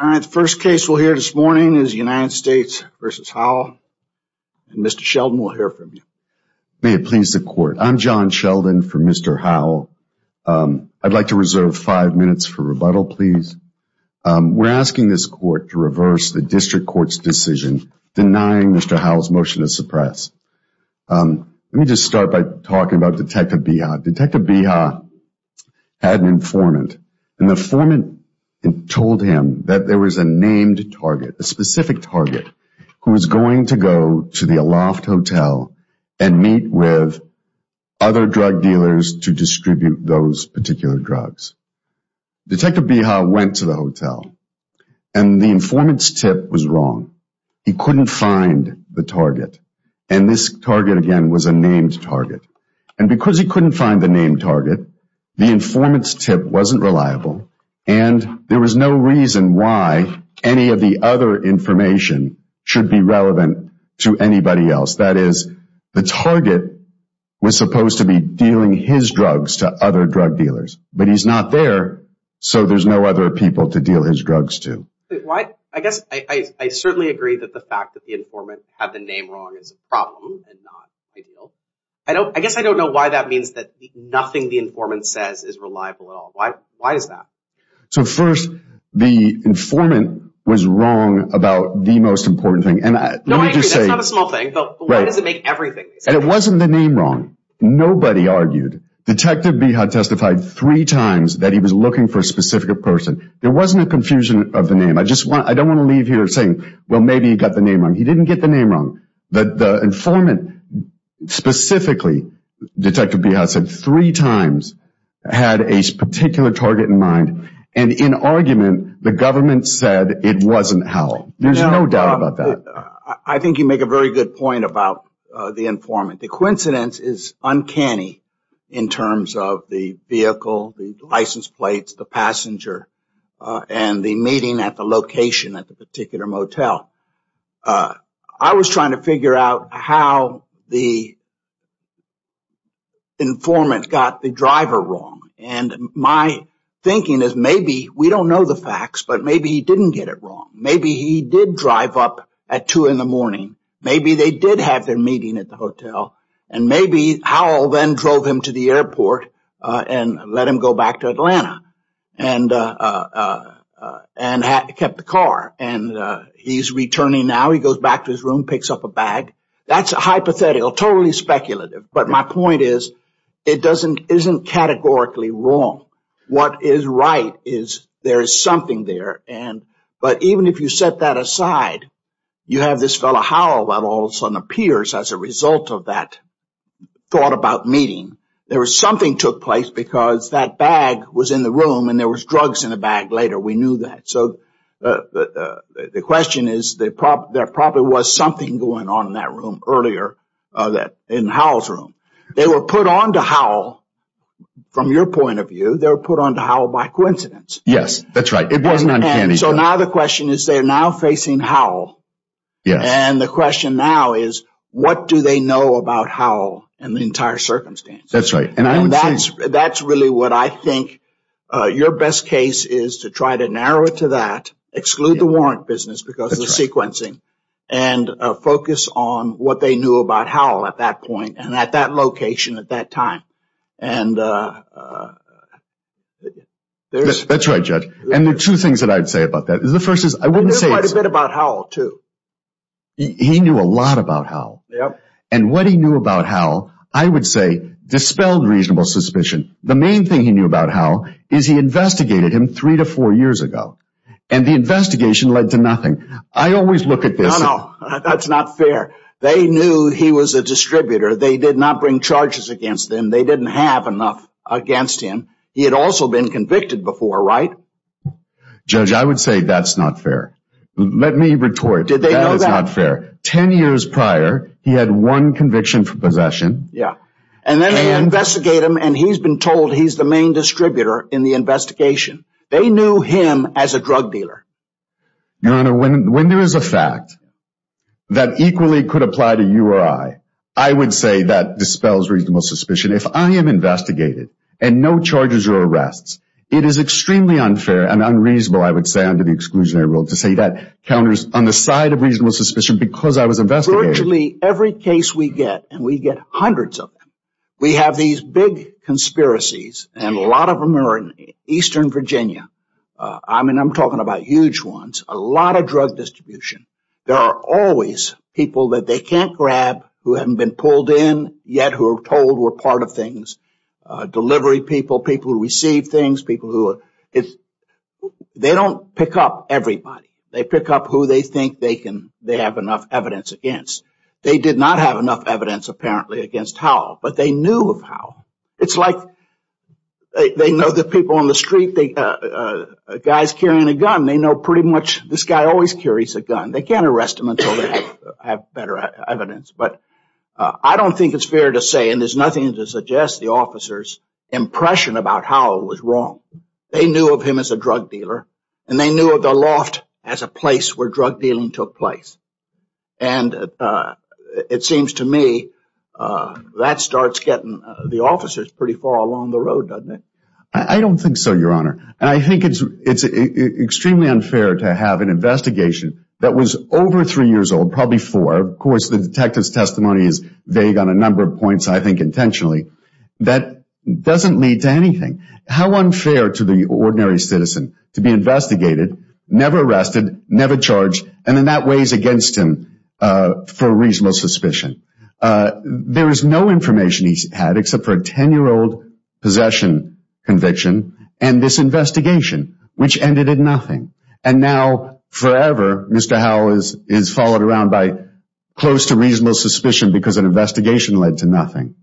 The first case we'll hear this morning is United States v. Howell. Mr. Sheldon, we'll hear from you. May it please the Court. I'm John Sheldon for Mr. Howell. I'd like to reserve five minutes for rebuttal, please. We're asking this Court to reverse the District Court's decision denying Mr. Howell's motion to suppress. Let me just start by talking about Detective Beha. Detective Beha had an informant, and the informant told him that there was a named target, a specific target, who was going to go to the Aloft Hotel and meet with other drug dealers to distribute those particular drugs. Detective Beha went to the hotel, and the informant's tip was wrong. He couldn't find the target, and this target, again, was a named target. And because he couldn't find the named target, the informant's tip wasn't reliable, and there was no reason why any of the other information should be relevant to anybody else. That is, the target was supposed to be dealing his drugs to other drug dealers, but he's not there, so there's no other people to deal his drugs to. I guess I certainly agree that the fact that the informant had the name wrong is a problem and not ideal. I guess I don't know why that means that nothing the informant says is reliable at all. Why is that? So first, the informant was wrong about the most important thing. No, I agree. That's not a small thing, but why does it make everything? And it wasn't the name wrong. Nobody argued. Detective Beha testified three times that he was looking for a specific person. There wasn't a confusion of the name. I don't want to leave here saying, well, maybe he got the name wrong. He didn't get the name wrong. The informant specifically, Detective Beha said three times, had a particular target in mind, and in argument, the government said it wasn't Hal. There's no doubt about that. I think you make a very good point about the informant. The coincidence is uncanny in terms of the vehicle, the license plates, the passenger, and the meeting at the location at the particular motel. I was trying to figure out how the informant got the driver wrong. And my thinking is maybe we don't know the facts, but maybe he didn't get it wrong. Maybe he did drive up at 2 in the morning. Maybe they did have their meeting at the hotel. And maybe Hal then drove him to the airport and let him go back to Atlanta and kept the car. And he's returning now. He goes back to his room, picks up a bag. That's hypothetical, totally speculative. But my point is it isn't categorically wrong. What is right is there is something there, but even if you set that aside, you have this fellow Hal that all of a sudden appears as a result of that thought about meeting. There was something took place because that bag was in the room, and there was drugs in the bag later. We knew that. So the question is there probably was something going on in that room earlier, in Hal's room. They were put on to Hal, from your point of view, they were put on to Hal by coincidence. Yes, that's right. It wasn't uncanny. So now the question is they're now facing Hal. And the question now is what do they know about Hal in the entire circumstance? That's right. That's really what I think your best case is to try to narrow it to that, exclude the warrant business because of the sequencing, and focus on what they knew about Hal at that point and at that location at that time. That's right, Judge. And there are two things that I would say about that. I wouldn't say it's – I knew quite a bit about Hal, too. He knew a lot about Hal. And what he knew about Hal I would say dispelled reasonable suspicion. The main thing he knew about Hal is he investigated him three to four years ago, and the investigation led to nothing. I always look at this. No, no, that's not fair. They knew he was a distributor. They did not bring charges against him. They didn't have enough against him. He had also been convicted before, right? Judge, I would say that's not fair. Let me retort. That is not fair. Ten years prior, he had one conviction for possession. Yeah. And then they investigate him, and he's been told he's the main distributor in the investigation. They knew him as a drug dealer. Your Honor, when there is a fact that equally could apply to you or I, I would say that dispels reasonable suspicion. If I am investigated and no charges or arrests, it is extremely unfair and unreasonable, I would say, under the exclusionary rule, to say that counters on the side of reasonable suspicion because I was investigated. Virtually every case we get, and we get hundreds of them, we have these big conspiracies, and a lot of them are in eastern Virginia. I mean, I'm talking about huge ones, a lot of drug distribution. There are always people that they can't grab who haven't been pulled in, yet who are told were part of things, delivery people, people who receive things, they don't pick up everybody. They pick up who they think they have enough evidence against. They did not have enough evidence apparently against Howell, but they knew of Howell. It's like they know the people on the street, guys carrying a gun, they know pretty much this guy always carries a gun. They can't arrest him until they have better evidence. But I don't think it's fair to say, and there's nothing to suggest, the officer's impression about Howell was wrong. They knew of him as a drug dealer, and they knew of the loft as a place where drug dealing took place. And it seems to me that starts getting the officers pretty far along the road, doesn't it? I don't think so, Your Honor. I think it's extremely unfair to have an investigation that was over three years old, probably four. Of course, the detective's testimony is vague on a number of points, I think intentionally. That doesn't lead to anything. How unfair to the ordinary citizen to be investigated, never arrested, never charged, and then that weighs against him for reasonable suspicion. There is no information he's had except for a ten-year-old possession conviction and this investigation, which ended in nothing. And now forever, Mr. Howell is followed around by close to reasonable suspicion because an investigation led to nothing.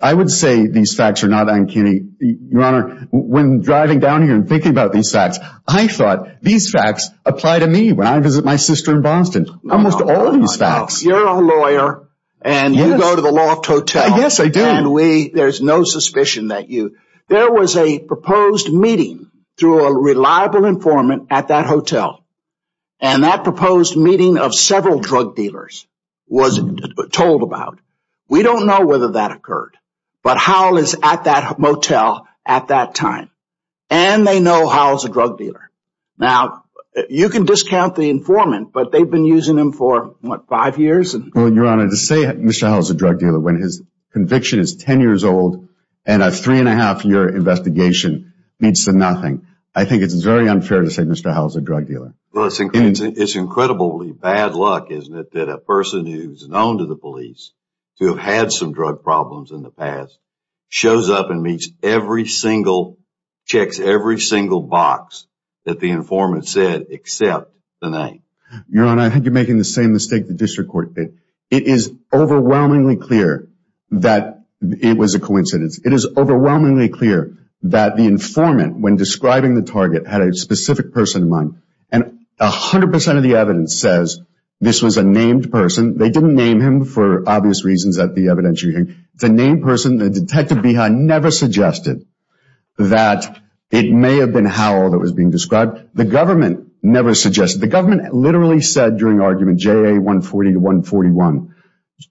I would say these facts are not uncanny. Your Honor, when driving down here and thinking about these facts, I thought these facts apply to me when I visit my sister in Boston. Almost all of these facts. You're a lawyer, and you go to the loft hotel. Yes, I do. And there's no suspicion that you – there was a proposed meeting through a reliable informant at that hotel. And that proposed meeting of several drug dealers was told about. We don't know whether that occurred, but Howell is at that motel at that time. And they know Howell's a drug dealer. Now, you can discount the informant, but they've been using him for, what, five years? Well, Your Honor, to say Mr. Howell's a drug dealer when his conviction is ten years old and a three-and-a-half-year investigation leads to nothing, I think it's very unfair to say Mr. Howell's a drug dealer. Well, it's incredibly bad luck, isn't it, that a person who's known to the police to have had some drug problems in the past shows up and meets every single – checks every single box that the informant said except the name. Your Honor, I think you're making the same mistake the district court did. It is overwhelmingly clear that it was a coincidence. It is overwhelmingly clear that the informant, when describing the target, had a specific person in mind. And 100% of the evidence says this was a named person. They didn't name him for obvious reasons at the evidentiary hearing. It's a named person. The detective behind never suggested that it may have been Howell that was being described. The government never suggested. The government literally said during argument, J.A. 140-141,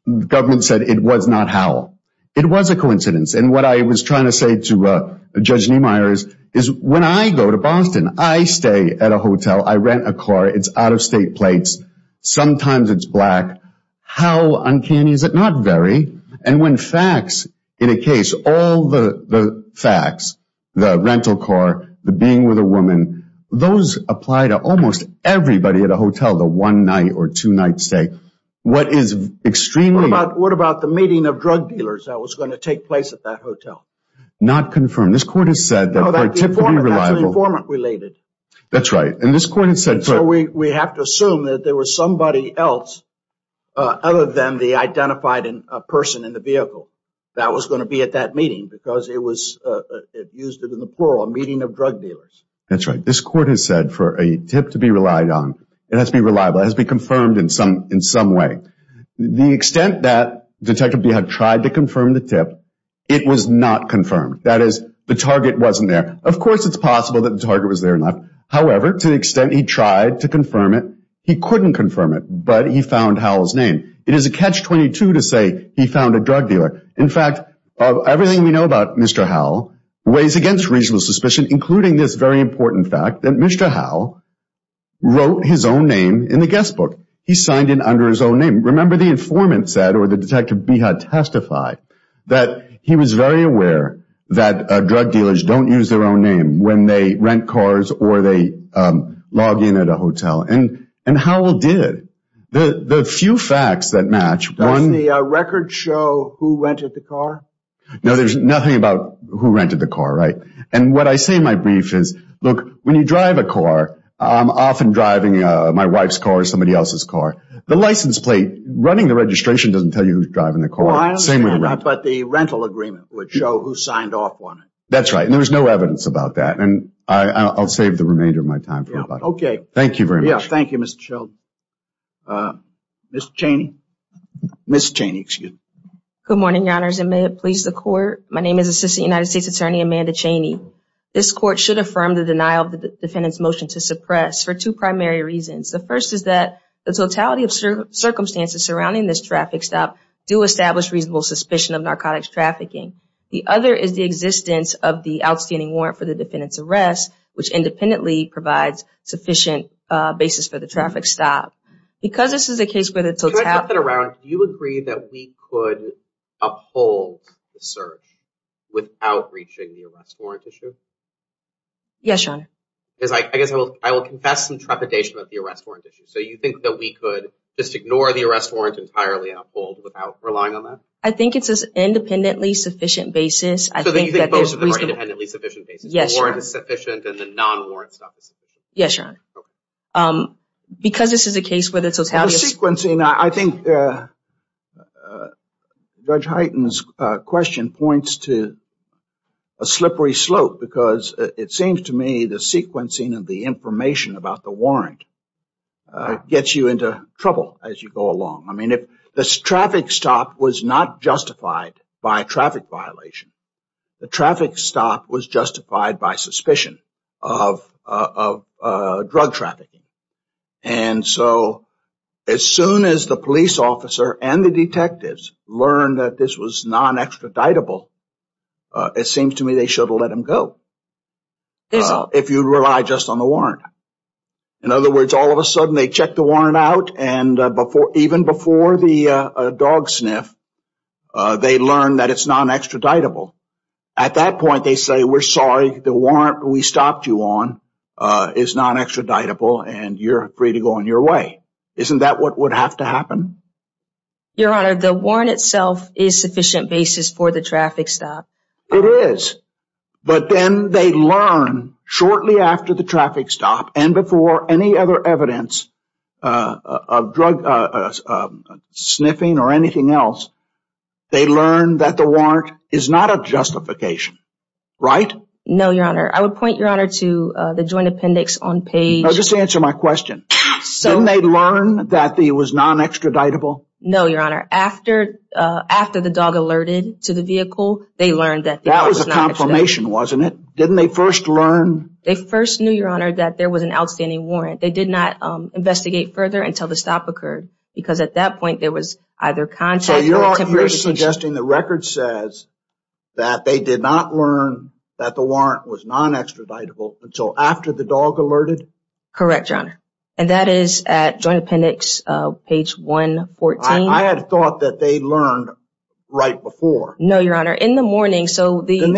the government said it was not Howell. It was a coincidence. And what I was trying to say to Judge Niemeyer is when I go to Boston, I stay at a hotel. I rent a car. It's out-of-state plates. Sometimes it's black. How uncanny is it? Not very. And when facts in a case, all the facts, the rental car, the being with a woman, those apply to almost everybody at a hotel, the one-night or two-night stay. What about the meeting of drug dealers that was going to take place at that hotel? Not confirmed. No, that's an informant-related. That's right. We have to assume that there was somebody else other than the identified person in the vehicle that was going to be at that meeting because it used it in the plural, a meeting of drug dealers. That's right. This court has said for a tip to be relied on, it has to be reliable. It has to be confirmed in some way. The extent that Detective Beha tried to confirm the tip, it was not confirmed. That is, the target wasn't there. Of course, it's possible that the target was there and left. However, to the extent he tried to confirm it, he couldn't confirm it, but he found Howell's name. It is a catch-22 to say he found a drug dealer. In fact, everything we know about Mr. Howell weighs against reasonable suspicion, including this very important fact that Mr. Howell wrote his own name in the guest book. He signed it under his own name. Remember the informant said, or the Detective Beha testified, that he was very aware that drug dealers don't use their own name when they rent cars or they log in at a hotel, and Howell did. The few facts that match. Does the record show who rented the car? No, there's nothing about who rented the car. And what I say in my brief is, look, when you drive a car, I'm often driving my wife's car or somebody else's car. The license plate running the registration doesn't tell you who's driving the car. I understand, but the rental agreement would show who signed off on it. That's right, and there's no evidence about that. I'll save the remainder of my time. Okay. Thank you very much. Thank you, Mr. Sheldon. Ms. Cheney? Good morning, Your Honors, and may it please the Court. My name is Assistant United States Attorney Amanda Cheney. This Court should affirm the denial of the defendant's motion to suppress for two primary reasons. The first is that the totality of circumstances surrounding this traffic stop do establish reasonable suspicion of narcotics trafficking. The other is the existence of the outstanding warrant for the defendant's arrest, which independently provides sufficient basis for the traffic stop. Can I flip that around? Do you agree that we could uphold the search without reaching the arrest warrant issue? Yes, Your Honor. I guess I will confess some trepidation about the arrest warrant issue. So you think that we could just ignore the arrest warrant entirely and uphold without relying on that? I think it's an independently sufficient basis. So you think both of them are independently sufficient basis? Yes, Your Honor. The warrant is sufficient and the non-warrant stuff is sufficient? Yes, Your Honor. Because this is a case where the totality of circumstances… The sequencing, I think Judge Hyten's question points to a slippery slope because it seems to me the sequencing of the information about the warrant gets you into trouble as you go along. I mean, the traffic stop was not justified by a traffic violation. The traffic stop was justified by suspicion of drug trafficking. And so as soon as the police officer and the detectives learn that this was non-extraditable, it seems to me they should let him go if you rely just on the warrant. In other words, all of a sudden they check the warrant out and even before the dog sniff, they learn that it's non-extraditable. At that point they say, we're sorry, the warrant we stopped you on is non-extraditable and you're free to go on your way. Isn't that what would have to happen? Your Honor, the warrant itself is sufficient basis for the traffic stop. It is. But then they learn shortly after the traffic stop and before any other evidence of drug sniffing or anything else, they learn that the warrant is not a justification. Right? No, Your Honor. I would point, Your Honor, to the joint appendix on page… Just answer my question. Didn't they learn that it was non-extraditable? No, Your Honor. After the dog alerted to the vehicle, they learned that… That was a confirmation, wasn't it? Didn't they first learn… They first knew, Your Honor, that there was an outstanding warrant. They did not investigate further until the stop occurred because at that point there was either contact… So you're suggesting the record says that they did not learn that the warrant was non-extraditable until after the dog alerted? Correct, Your Honor. And that is at joint appendix page 114. I had thought that they learned right before. No, Your Honor. In the morning, so the… Didn't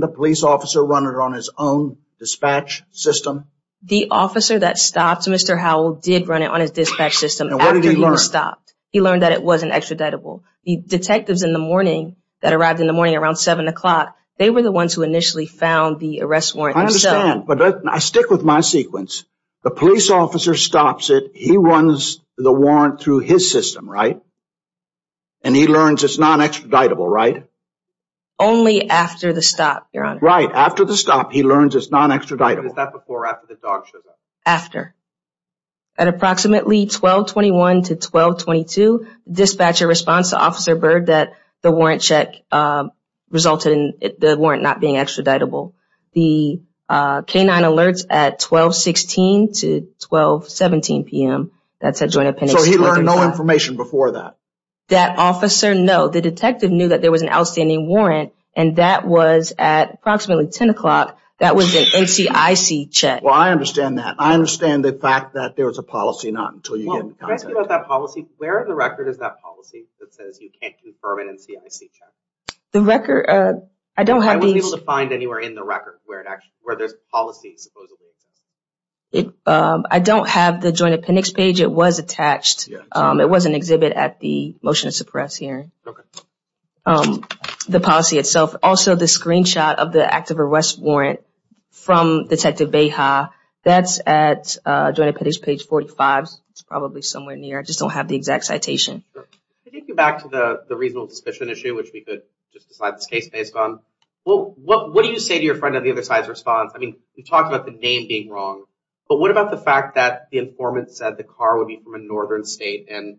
the police officer run it on his own dispatch system? The officer that stopped Mr. Howell did run it on his dispatch system after he was stopped. And what did he learn? He learned that it wasn't extraditable. The detectives in the morning that arrived in the morning around 7 o'clock, they were the ones who initially found the arrest warrant themselves. I understand, but I stick with my sequence. The police officer stops it. He runs the warrant through his system, right? And he learns it's non-extraditable, right? Only after the stop, Your Honor. Right, after the stop he learns it's non-extraditable. Was that before or after the dog showed up? After. At approximately 1221 to 1222, dispatcher responds to Officer Byrd that the warrant check resulted in the warrant not being extraditable. The canine alerts at 1216 to 1217 p.m. That's at joint appendix… So he learned no information before that? That officer, no. The detective knew that there was an outstanding warrant and that was at approximately 10 o'clock. That was an NCIC check. Well, I understand that. I understand the fact that there was a policy, not until you get into contact. Well, can I ask you about that policy? Where in the record is that policy that says you can't confirm an NCIC check? The record, I don't have these… I wasn't able to find anywhere in the record where there's a policy, supposedly, attached. I don't have the joint appendix page. It was attached. It was an exhibit at the motion to suppress hearing. The policy itself, also the screenshot of the active arrest warrant from Detective Beja, that's at joint appendix page 45. It's probably somewhere near. I just don't have the exact citation. To take you back to the reasonable suspicion issue, which we could just decide this case based on, what do you say to your friend on the other side's response? I mean, you talked about the name being wrong, but what about the fact that the informant said the car would be from a northern state, and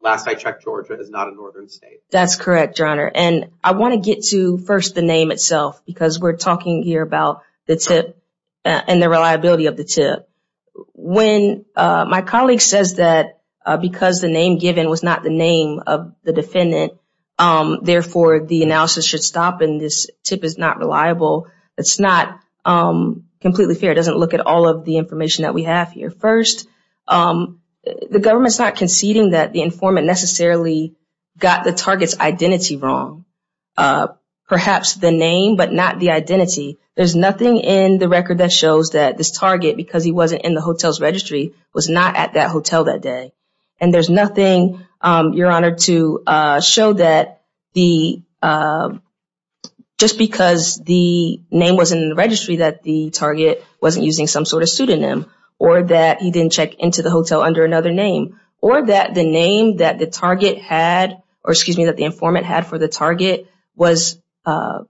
last I checked, Georgia is not a northern state. That's correct, Your Honor, and I want to get to first the name itself because we're talking here about the TIP and the reliability of the TIP. When my colleague says that because the name given was not the name of the defendant, therefore, the analysis should stop, and this TIP is not reliable, it's not completely fair. It doesn't look at all of the information that we have here. First, the government's not conceding that the informant necessarily got the target's identity wrong, perhaps the name but not the identity. There's nothing in the record that shows that this target, because he wasn't in the hotel's registry, was not at that hotel that day, and there's nothing, Your Honor, to show that just because the name wasn't in the registry that the target wasn't using some sort of pseudonym, or that he didn't check into the hotel under another name, or that the name that the target had, or excuse me, that the informant had for the target was a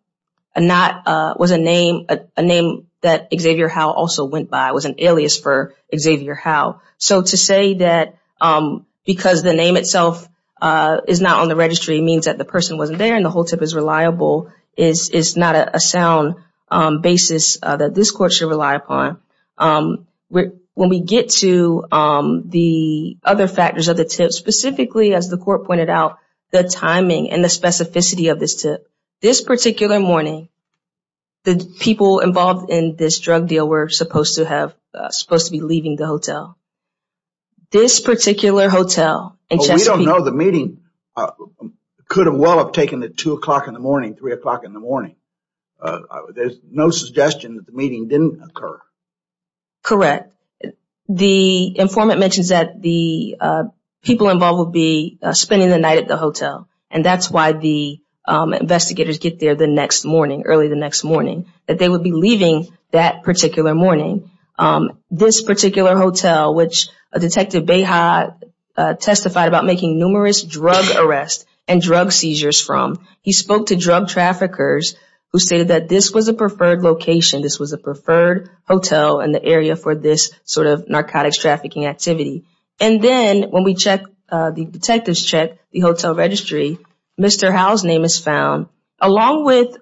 name that Xavier Howe also went by, was an alias for Xavier Howe. So to say that because the name itself is not on the registry means that the person wasn't there and the whole TIP is reliable is not a sound basis that this court should rely upon. When we get to the other factors of the TIP, specifically as the court pointed out, the timing and the specificity of this TIP, this particular morning the people involved in this drug deal were supposed to be leaving the hotel. This particular hotel in Chesapeake. Well, we don't know. The meeting could well have taken the 2 o'clock in the morning, 3 o'clock in the morning. There's no suggestion that the meeting didn't occur. Correct. The informant mentions that the people involved would be spending the night at the hotel, and that's why the investigators get there the next morning, early the next morning, that they would be leaving that particular morning. This particular hotel, which Detective Beha testified about making numerous drug arrests and drug seizures from, he spoke to drug traffickers who stated that this was a preferred location, this was a preferred hotel in the area for this sort of narcotics trafficking activity. And then when we check, the detectives check the hotel registry, Mr. Howell's name is found, along with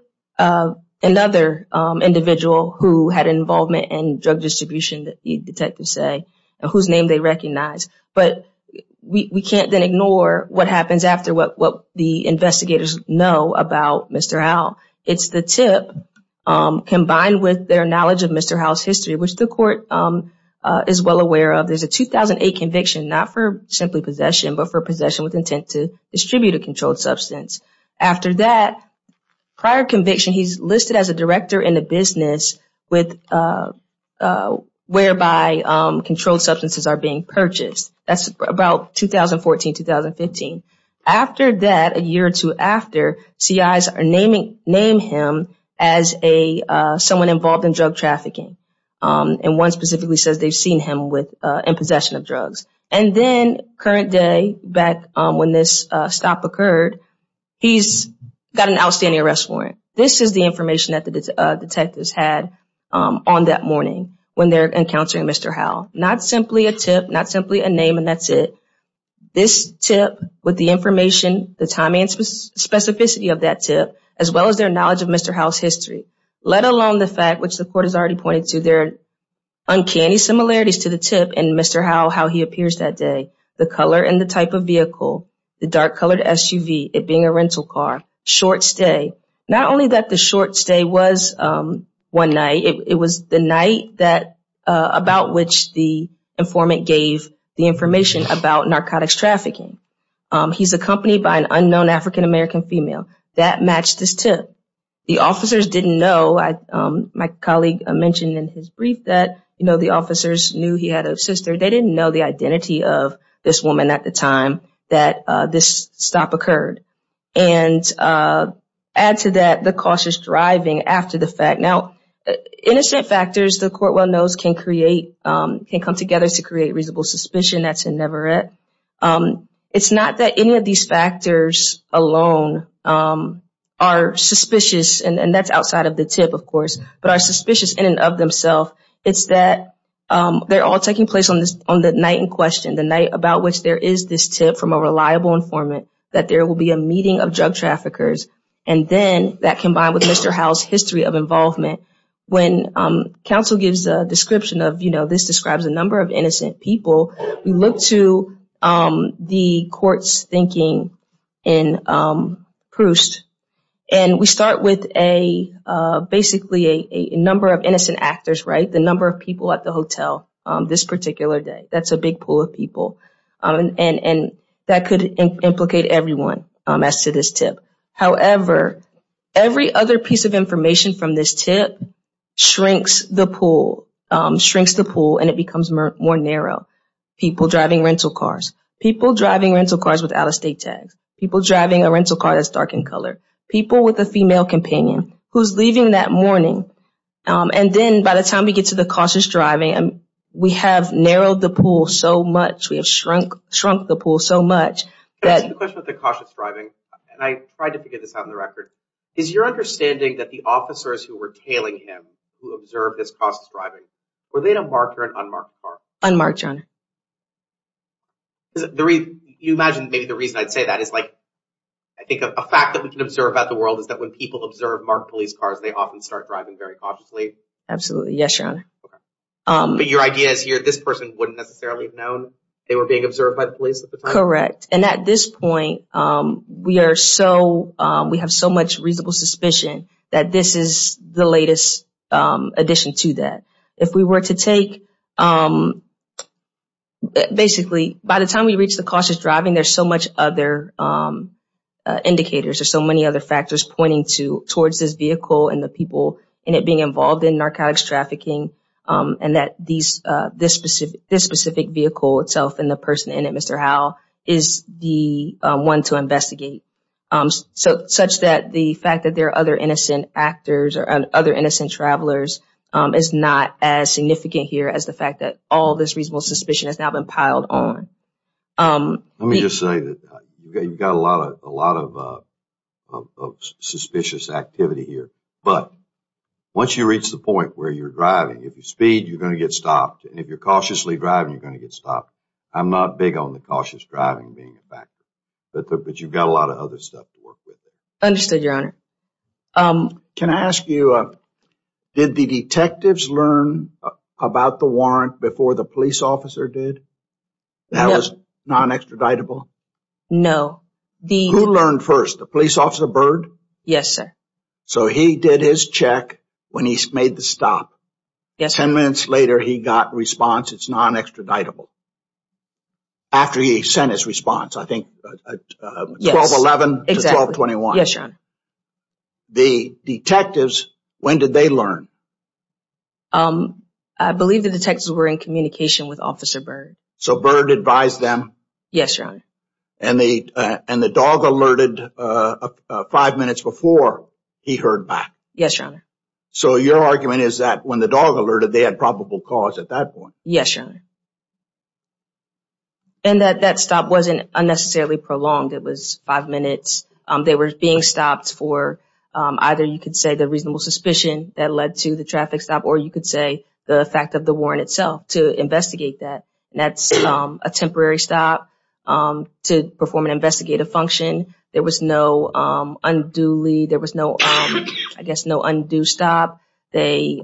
another individual who had involvement in drug distribution, that the detectives say, and whose name they recognize. We can't then ignore what happens after what the investigators know about Mr. Howell. It's the tip combined with their knowledge of Mr. Howell's history, which the court is well aware of. There's a 2008 conviction, not for simply possession, but for possession with intent to distribute a controlled substance. After that prior conviction, he's listed as a director in the business, whereby controlled substances are being purchased. That's about 2014, 2015. After that, a year or two after, CIs name him as someone involved in drug trafficking. And one specifically says they've seen him in possession of drugs. And then current day, back when this stop occurred, he's got an outstanding arrest warrant. This is the information that the detectives had on that morning, when they're encountering Mr. Howell. Not simply a tip, not simply a name, and that's it. This tip, with the information, the timing and specificity of that tip, as well as their knowledge of Mr. Howell's history, let alone the fact, which the court has already pointed to, there are uncanny similarities to the tip and Mr. Howell, how he appears that day. The color and the type of vehicle, the dark colored SUV, it being a rental car, short stay. Not only that the short stay was one night, it was the night about which the informant gave the information about narcotics trafficking. He's accompanied by an unknown African American female. That matched this tip. The officers didn't know. My colleague mentioned in his brief that the officers knew he had a sister. They didn't know the identity of this woman at the time that this stop occurred. Add to that the cautious driving after the fact. Now, innocent factors, the court well knows, can come together to create reasonable suspicion. That's inevitable. It's not that any of these factors alone are suspicious, and that's outside of the tip, of course, but are suspicious in and of themselves. It's that they're all taking place on the night in question, the night about which there is this tip from a reliable informant that there will be a meeting of drug traffickers, and then that combined with Mr. Howell's history of involvement. When counsel gives a description of this describes a number of innocent people, we look to the court's thinking in Proust, and we start with basically a number of innocent actors, the number of people at the hotel this particular day. That's a big pool of people. That could implicate everyone as to this tip. However, every other piece of information from this tip shrinks the pool, shrinks the pool, and it becomes more narrow. People driving rental cars, people driving rental cars with out-of-state tags, people driving a rental car that's dark in color, people with a female companion who's leaving that morning, and then by the time we get to the cautious driving, we have narrowed the pool so much. We have shrunk the pool so much. The question with the cautious driving, and I tried to figure this out in the record, is your understanding that the officers who were tailing him, who observed this cautious driving, were they in a marked or an unmarked car? Unmarked, Your Honor. You imagine maybe the reason I'd say that is like, I think a fact that we can observe about the world is that when people observe marked police cars, they often start driving very cautiously. Absolutely. Yes, Your Honor. But your idea is here, this person wouldn't necessarily have known they were being observed by the police at the time? Correct. And at this point, we are so, we have so much reasonable suspicion that this is the latest addition to that. If we were to take, basically, by the time we reach the cautious driving, there's so much other indicators, there's so many other factors pointing to, towards this vehicle and the people in it being involved in narcotics trafficking. And that this specific vehicle itself and the person in it, Mr. Howell, is the one to investigate. Such that the fact that there are other innocent actors or other innocent travelers is not as significant here as the fact that all this reasonable suspicion has now been piled on. Let me just say that you've got a lot of suspicious activity here. But once you reach the point where you're driving, if you speed, you're going to get stopped. And if you're cautiously driving, you're going to get stopped. I'm not big on the cautious driving being a factor. But you've got a lot of other stuff to work with. Understood, Your Honor. Can I ask you, did the detectives learn about the warrant before the police officer did? No. That was not an extraditable? No. Who learned first, the police officer Byrd? Yes, sir. So he did his check when he made the stop. Yes, sir. Ten minutes later, he got a response, it's not an extraditable. After he sent his response, I think, 12-11 to 12-21. Yes, Your Honor. The detectives, when did they learn? I believe the detectives were in communication with Officer Byrd. So Byrd advised them? Yes, Your Honor. And the dog alerted five minutes before he heard back? Yes, Your Honor. So your argument is that when the dog alerted, they had probable cause at that point? Yes, Your Honor. And that stop wasn't unnecessarily prolonged, it was five minutes. They were being stopped for either, you could say, the reasonable suspicion that led to the traffic stop, or you could say, the fact of the warrant itself to investigate that. That's a temporary stop to perform an investigative function. There was no unduly, there was no, I guess, no undue stop. They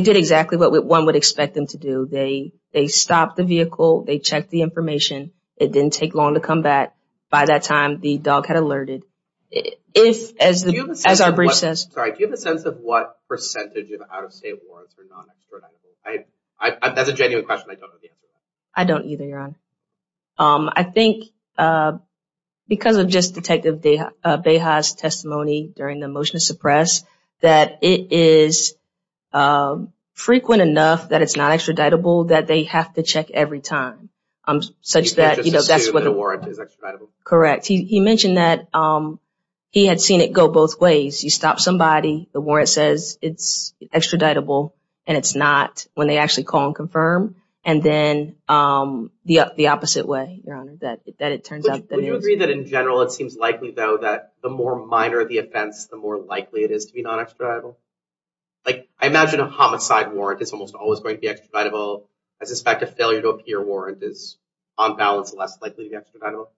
did exactly what one would expect them to do. They stopped the vehicle, they checked the information, it didn't take long to come back. By that time, the dog had alerted. If, as our brief says, Sorry, do you have a sense of what percentage of out-of-state warrants are non-extraditable? That's a genuine question, I don't know the answer to that. I don't either, Your Honor. I think because of just Detective Beha's testimony during the motion to suppress, that it is frequent enough that it's not extraditable, that they have to check every time, such that, You can't just assume the warrant is extraditable? Correct. He mentioned that he had seen it go both ways. You stop somebody, the warrant says it's extraditable, and it's not, when they actually call and confirm, and then the opposite way, Your Honor, that it turns out that it is. Would you agree that in general, it seems likely, though, that the more minor the offense, the more likely it is to be non-extraditable? I imagine a homicide warrant is almost always going to be extraditable. I suspect a failure to appear warrant is, on balance, less likely to be extraditable.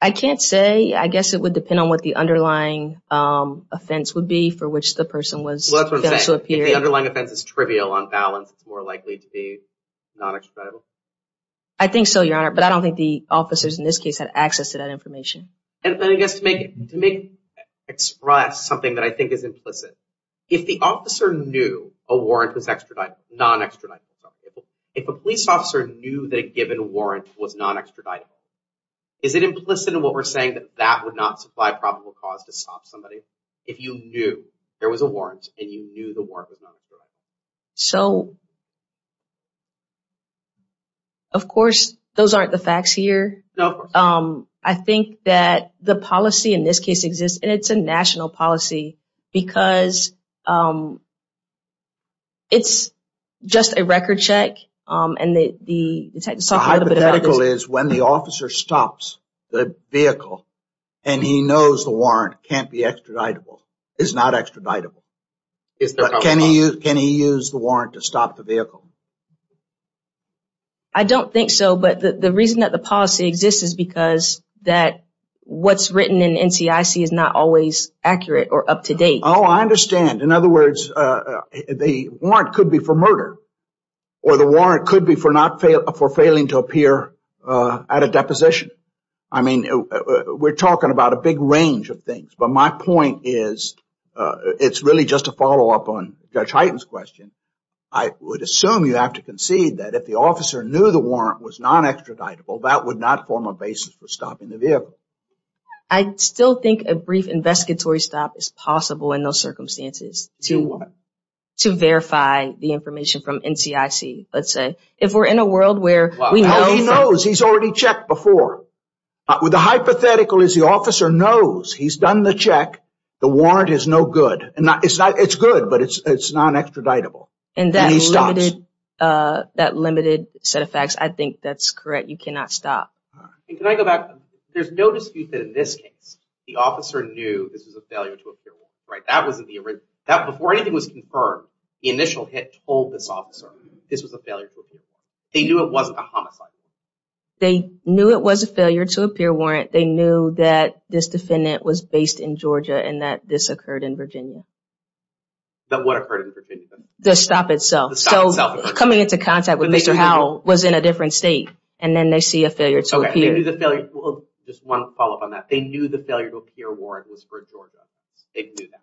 I can't say. I guess it would depend on what the underlying offense would be for which the person was If the underlying offense is trivial, on balance, it's more likely to be non-extraditable? I think so, Your Honor, but I don't think the officers, in this case, had access to that information. And I guess to make, to make, express something that I think is implicit, if the officer knew a warrant was extraditable, non-extraditable, for example, if a police officer knew that a given warrant was non-extraditable, is it implicit in what we're saying that that would not supply probable cause to stop somebody? If you knew there was a warrant, and you knew the warrant was non-extraditable. So, of course, those aren't the facts here. No, of course not. I think that the policy, in this case, exists, and it's a national policy, because it's just a record check. The hypothetical is when the officer stops the vehicle, and he knows the warrant can't be extraditable, is not extraditable. Can he use the warrant to stop the vehicle? I don't think so, but the reason that the policy exists is because that what's written in NCIC is not always accurate or up to date. Oh, I understand. In other words, the warrant could be for murder, or the warrant could be for not, for failing to appear at a deposition. I mean, we're talking about a big range of things, but my point is, it's really just a follow-up on Judge Hyten's question. I would assume you have to concede that if the officer knew the warrant was non-extraditable, that would not form a basis for stopping the vehicle. I still think a brief investigatory stop is possible in those circumstances. To do what? To verify the information from NCIC, let's say. If we're in a world where we know... The hypothetical is the officer knows he's done the check, the warrant is no good. It's good, but it's non-extraditable, and he stops. And that limited set of facts, I think that's correct. You cannot stop. Can I go back? There's no dispute that in this case, the officer knew this was a failure to appear warrant, right? Before anything was confirmed, the initial hit told this officer this was a failure to appear warrant. They knew it wasn't a homicide. They knew it was a failure to appear warrant. They knew that this defendant was based in Georgia and that this occurred in Virginia. What occurred in Virginia? The stop itself. Coming into contact with Mr. Howell was in a different state, and then they see a failure to appear. Just one follow-up on that. They knew the failure to appear warrant was for Georgia. They knew that.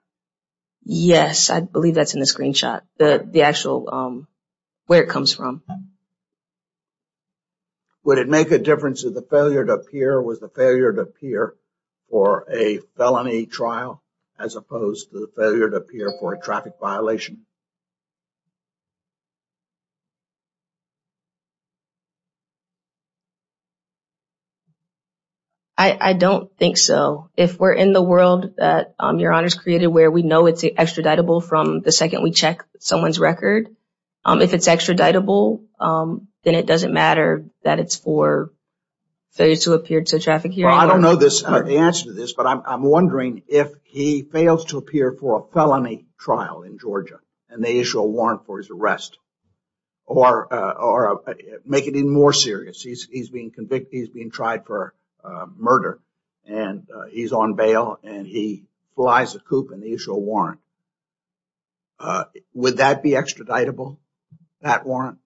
Yes, I believe that's in the screenshot. The actual... Where it comes from. Would it make a difference if the failure to appear was the failure to appear for a felony trial as opposed to the failure to appear for a traffic violation? I don't think so. If we're in the world that Your Honor's created where we know it's extraditable from the second we check someone's record, if it's extraditable, then it doesn't matter that it's for failure to appear to traffic hearing. I don't know the answer to this, but I'm wondering if he fails to appear for a felony trial in Georgia and they issue a warrant for his arrest or make it even more serious. He's being convicted. He's being tried for murder, and he's on bail, and he flies a coupe, and they issue a warrant. Would that be extraditable, that warrant?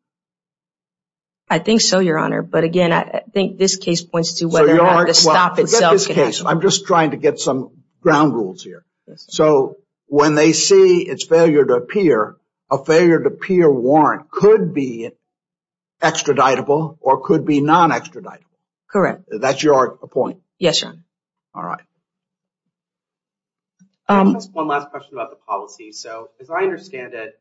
I think so, Your Honor. But again, I think this case points to whether or not the stop itself... Forget this case. I'm just trying to get some ground rules here. So when they see it's failure to appear, a failure to appear warrant could be extraditable or could be non-extraditable. Correct. That's your point? Yes, Your Honor. All right. One last question about the policy. So as I understand it,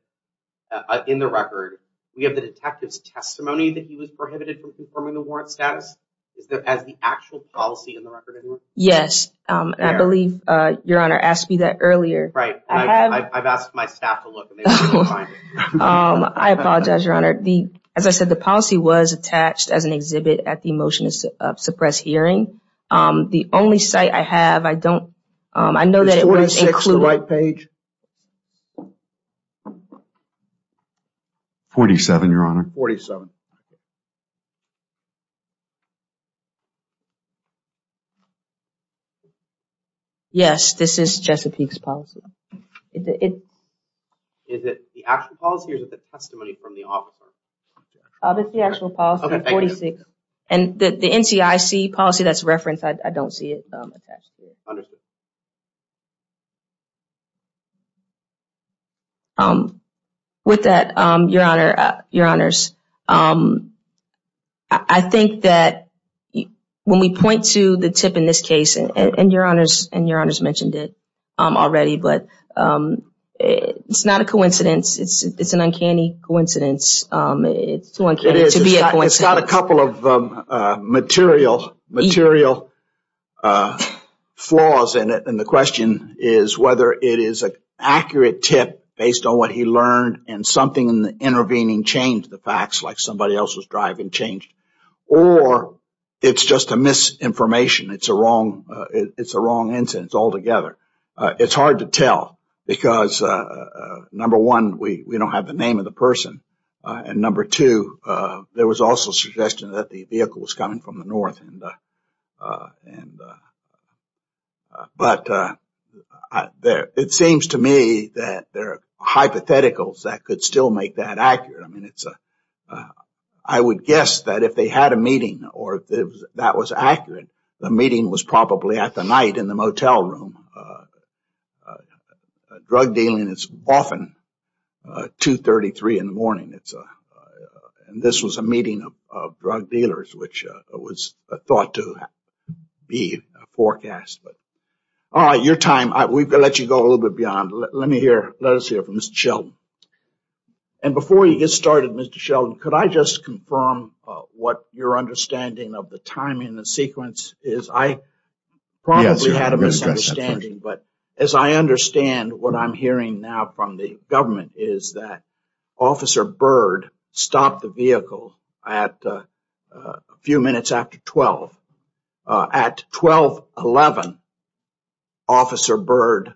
in the record, we have the detective's testimony that he was prohibited from confirming the warrant status. Is that as the actual policy in the record, anyone? Yes. I believe Your Honor asked me that earlier. Right. I've asked my staff to look, and they couldn't find it. I apologize, Your Honor. As I said, the policy was attached as an exhibit at the motion to suppress hearing. The only site I have, I don't... Is 46 the right page? 47, Your Honor. 47. Yes, this is Jessipeak's policy. Is it the actual policy or is it the testimony from the officer? It's the actual policy, 46. Okay, thank you. The NCIC policy that's referenced, I don't see it attached to it. Understood. With that, Your Honor, Your Honors, I think that when we point to the tip in this case, and Your Honors mentioned it already, but it's not a coincidence. It's an uncanny coincidence. It's too uncanny to be a coincidence. It's got a couple of material flaws in it, and the question is whether it is an accurate tip based on what he learned, and something in the intervening changed the facts like somebody else was driving changed, or it's just a misinformation. It's a wrong instance altogether. It's hard to tell because, number one, we don't have the name of the person, and number two, there was also a suggestion that the vehicle was coming from the north. But it seems to me that there are hypotheticals that could still make that accurate. I mean, I would guess that if they had a meeting or if that was accurate, the meeting was probably at the night in the motel room. Drug dealing is often 2.33 in the morning, and this was a meeting of drug dealers, which was thought to be a forecast. All right, your time. We've got to let you go a little bit beyond. Let us hear from Mr. Sheldon, and before you get started, Mr. Sheldon, could I just confirm what your understanding of the timing and sequence is? I probably had a misunderstanding, but as I understand what I'm hearing now from the government is that Officer Byrd stopped the vehicle a few minutes after 12. At 12.11, Officer Byrd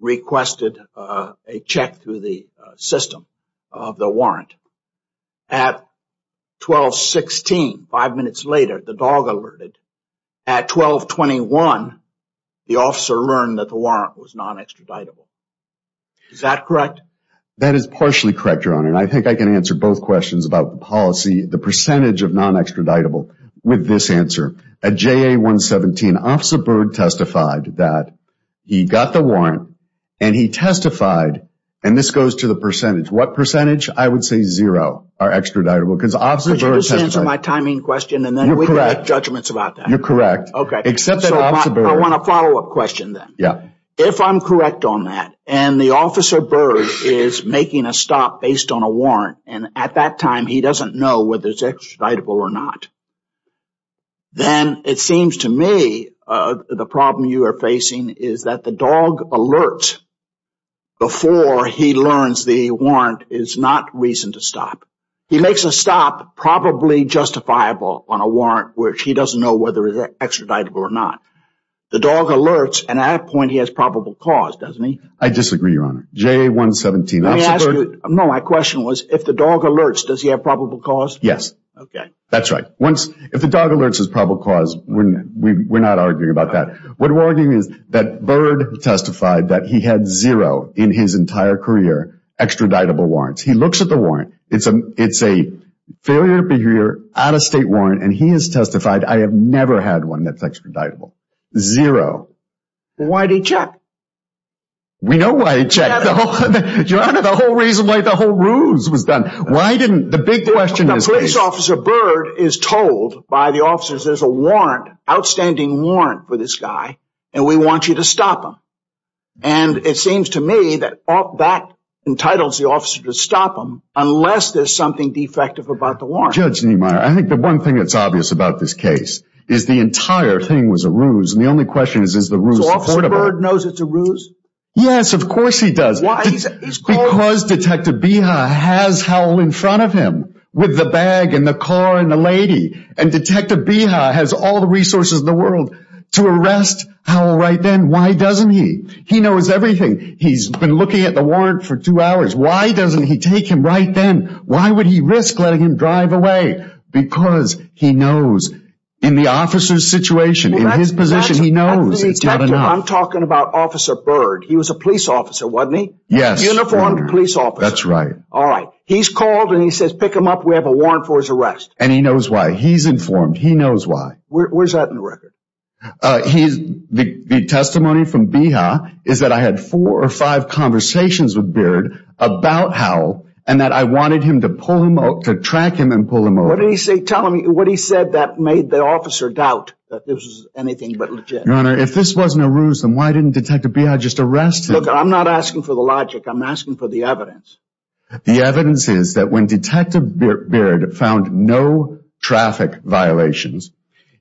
requested a check through the system of the warrant. At 12.16, five minutes later, the dog alerted. At 12.21, the officer learned that the warrant was non-extraditable. Is that correct? That is partially correct, Your Honor, and I think I can answer both questions about the policy, the percentage of non-extraditable with this answer. At JA-117, Officer Byrd testified that he got the warrant and he testified, and this goes to the percentage. What percentage? I would say zero are extraditable because Officer Byrd testified. Could you just answer my timing question and then we can make judgments about that? You're correct. I want a follow-up question then. If I'm correct on that and the Officer Byrd is making a stop based on a warrant and at that time he doesn't know whether it's extraditable or not, then it seems to me the problem you are facing is that the dog alert before he learns the warrant is not reason to stop. He makes a stop probably justifiable on a warrant where he doesn't know whether it's extraditable or not. The dog alerts and at that point he has probable cause, doesn't he? I disagree, Your Honor. JA-117, Officer Byrd... No, my question was if the dog alerts, does he have probable cause? Yes. Okay. That's right. If the dog alerts his probable cause, we're not arguing about that. What we're arguing is that Byrd testified that he had zero in his entire career extraditable warrants. He looks at the warrant. It's a failure to be here, out-of-state warrant and he has testified, I have never had one that's extraditable. Zero. Why did he check? We know why he checked. Your Honor, the whole reason why the whole ruse was done. Why didn't... The big question is... Police Officer Byrd is told by the officers, there's a warrant, outstanding warrant for this guy and we want you to stop him. And it seems to me that that entitles the officer to stop him, unless there's something defective about the warrant. Judge Niemeyer, I think the one thing that's obvious about this case is the entire thing was a ruse and the only question is, is the ruse affordable? So, Officer Byrd knows it's a ruse? Yes, of course he does. Why? Because Detective Beha has Howell in front of him with the bag and the car and the lady and Detective Beha has all the resources in the world to arrest Howell right then. Why doesn't he? He knows everything. He's been looking at the warrant for two hours. Why doesn't he take him right then? Why would he risk letting him drive away? Because he knows. In the officer's situation, in his position, he knows it's not enough. I'm talking about Officer Byrd. He was a police officer, wasn't he? Yes. Uniformed police officer. That's right. Alright. He's called and he says, pick him up, we have a warrant for his arrest. And he knows why. He's informed. He knows why. Where's that in the record? The testimony from Beha is that I had four or five conversations with Byrd about Howell and that I wanted him to pull him over, to track him and pull him over. What did he say? Tell him what he said that made the officer doubt that this was anything but legit. Your Honor, if this wasn't a ruse, then why didn't Detective Beha just arrest him? Look, I'm not asking for the logic. I'm asking for the evidence. The evidence is that when Detective Byrd found no traffic violations,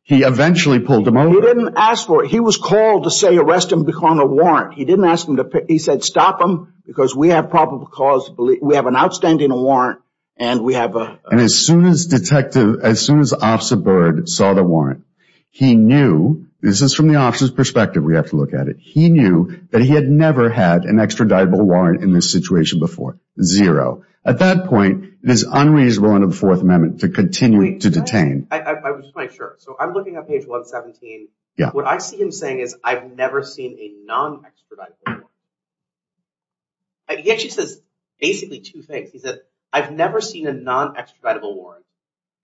he eventually pulled him over. He didn't ask for it. He was called to say, arrest him on a warrant. He didn't ask him to pick, he said, stop him, because we have probable cause, we have an outstanding warrant, and we have a... And as soon as Detective, as soon as Officer Byrd saw the warrant, he knew, this is from the officer's perspective, we have to look at it, he knew that he had never had an extraditable warrant in this situation before. Zero. At that point, it is unreasonable under the Fourth Amendment to continue to detain. I would just like to make sure. So I'm looking at page 117. Yeah. What I see him saying is, I've never seen a non-extraditable warrant. He actually says, basically, two things. He says, I've never seen a non-extraditable warrant.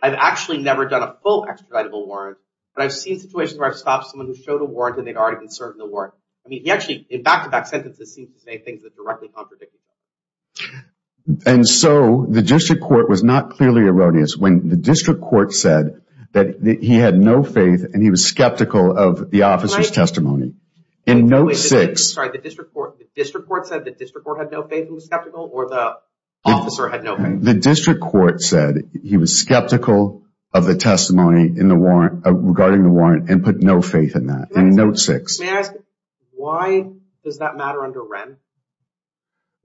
I've actually never done a full extraditable warrant, but I've seen situations where I've stopped someone who showed a warrant and they'd already been serving the warrant. I mean, he actually, in back-to-back sentences, seems to say things that directly contradict him. And so, the district court was not clearly erroneous when the district court said that he had no faith and he was skeptical of the officer's testimony. Right. In note six... Sorry. The district court said the district court had no faith and was skeptical, or the officer had no faith? The district court said he was skeptical of the testimony regarding the warrant and put no faith in that. In note six. May I ask, why does that matter under Wren?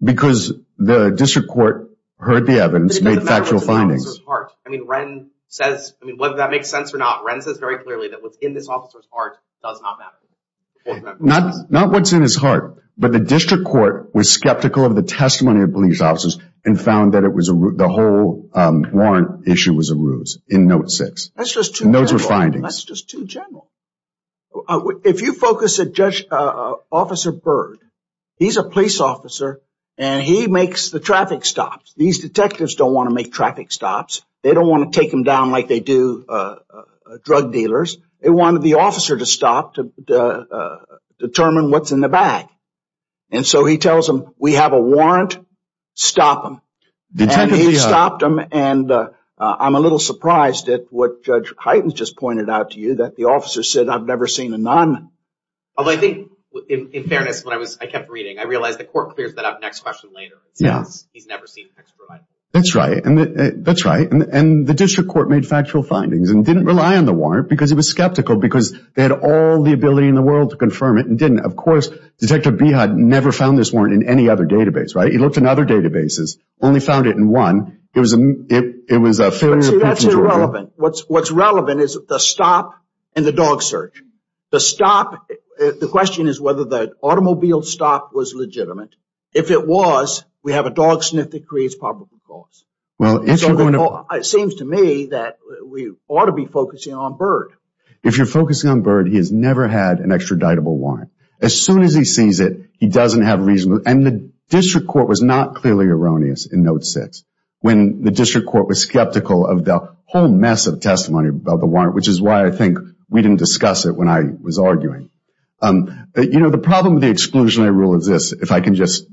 Because the district court heard the evidence, made factual findings. I mean, Wren says... I mean, whether that makes sense or not, Wren says very clearly that what's in this officer's heart does not matter. Not what's in his heart, but the district court was skeptical of the testimony of police officers and found that the whole warrant issue was a ruse. In note six. That's just too general. And those were findings. That's just too general. If you focus at Judge... Officer Byrd, he's a police officer and he makes the traffic stops. These detectives don't want to make traffic stops. They don't want to take them down like they do drug dealers. They wanted the officer to stop to determine what's in the bag. And so he tells them, we have a warrant. Stop them. And he stopped them. And I'm a little surprised at what Judge Hytens just pointed out to you that the officer said, I've never seen a nun. Although I think, in fairness, when I kept reading, I realized the court clears that up next question later. It says he's never seen an ex-provider. That's right. That's right. And the district court made factual findings and didn't rely on the warrant because he was skeptical because they had all the ability in the world to confirm it and didn't. Of course, Detective Beha never found this warrant in any other database, right? He looked in other databases, only found it in one. It was a failure... See, that's irrelevant. What's relevant is the stop and the dog search. The stop, the question is whether the automobile stop was legitimate. If it was, we have a dog sniff that creates probable cause. Well, if you're going to... It seems to me that we ought to be focusing on Byrd. If you're focusing on Byrd, he has never had an extraditable warrant. As soon as he sees it, he doesn't have reason... And the district court was not clearly erroneous in Note 6 when the district court was skeptical of the whole mess of testimony about the warrant, which is why I think we didn't discuss it when I was arguing. You know, the problem with the exclusionary rule is this. If I can just...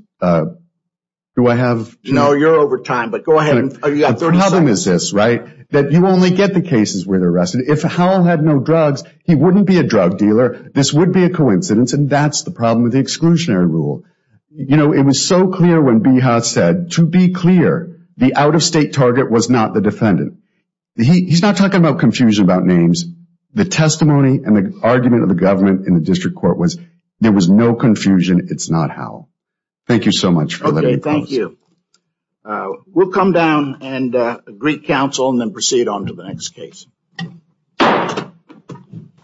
Do I have... No, you're over time, but go ahead. You've got 30 seconds. The problem is this, right? That you only get the cases where they're arrested. If Howell had no drugs, he wouldn't be a drug dealer. This would be a coincidence, and that's the problem with the exclusionary rule. You know, it was so clear when Beha said, to be clear, the out-of-state target was not the defendant. He's not talking about confusion about names. The testimony and the argument of the government in the district court was there was no confusion. It's not Howell. Thank you so much for letting me... Okay, thank you. We'll come down and greet counsel and then proceed on to the next case.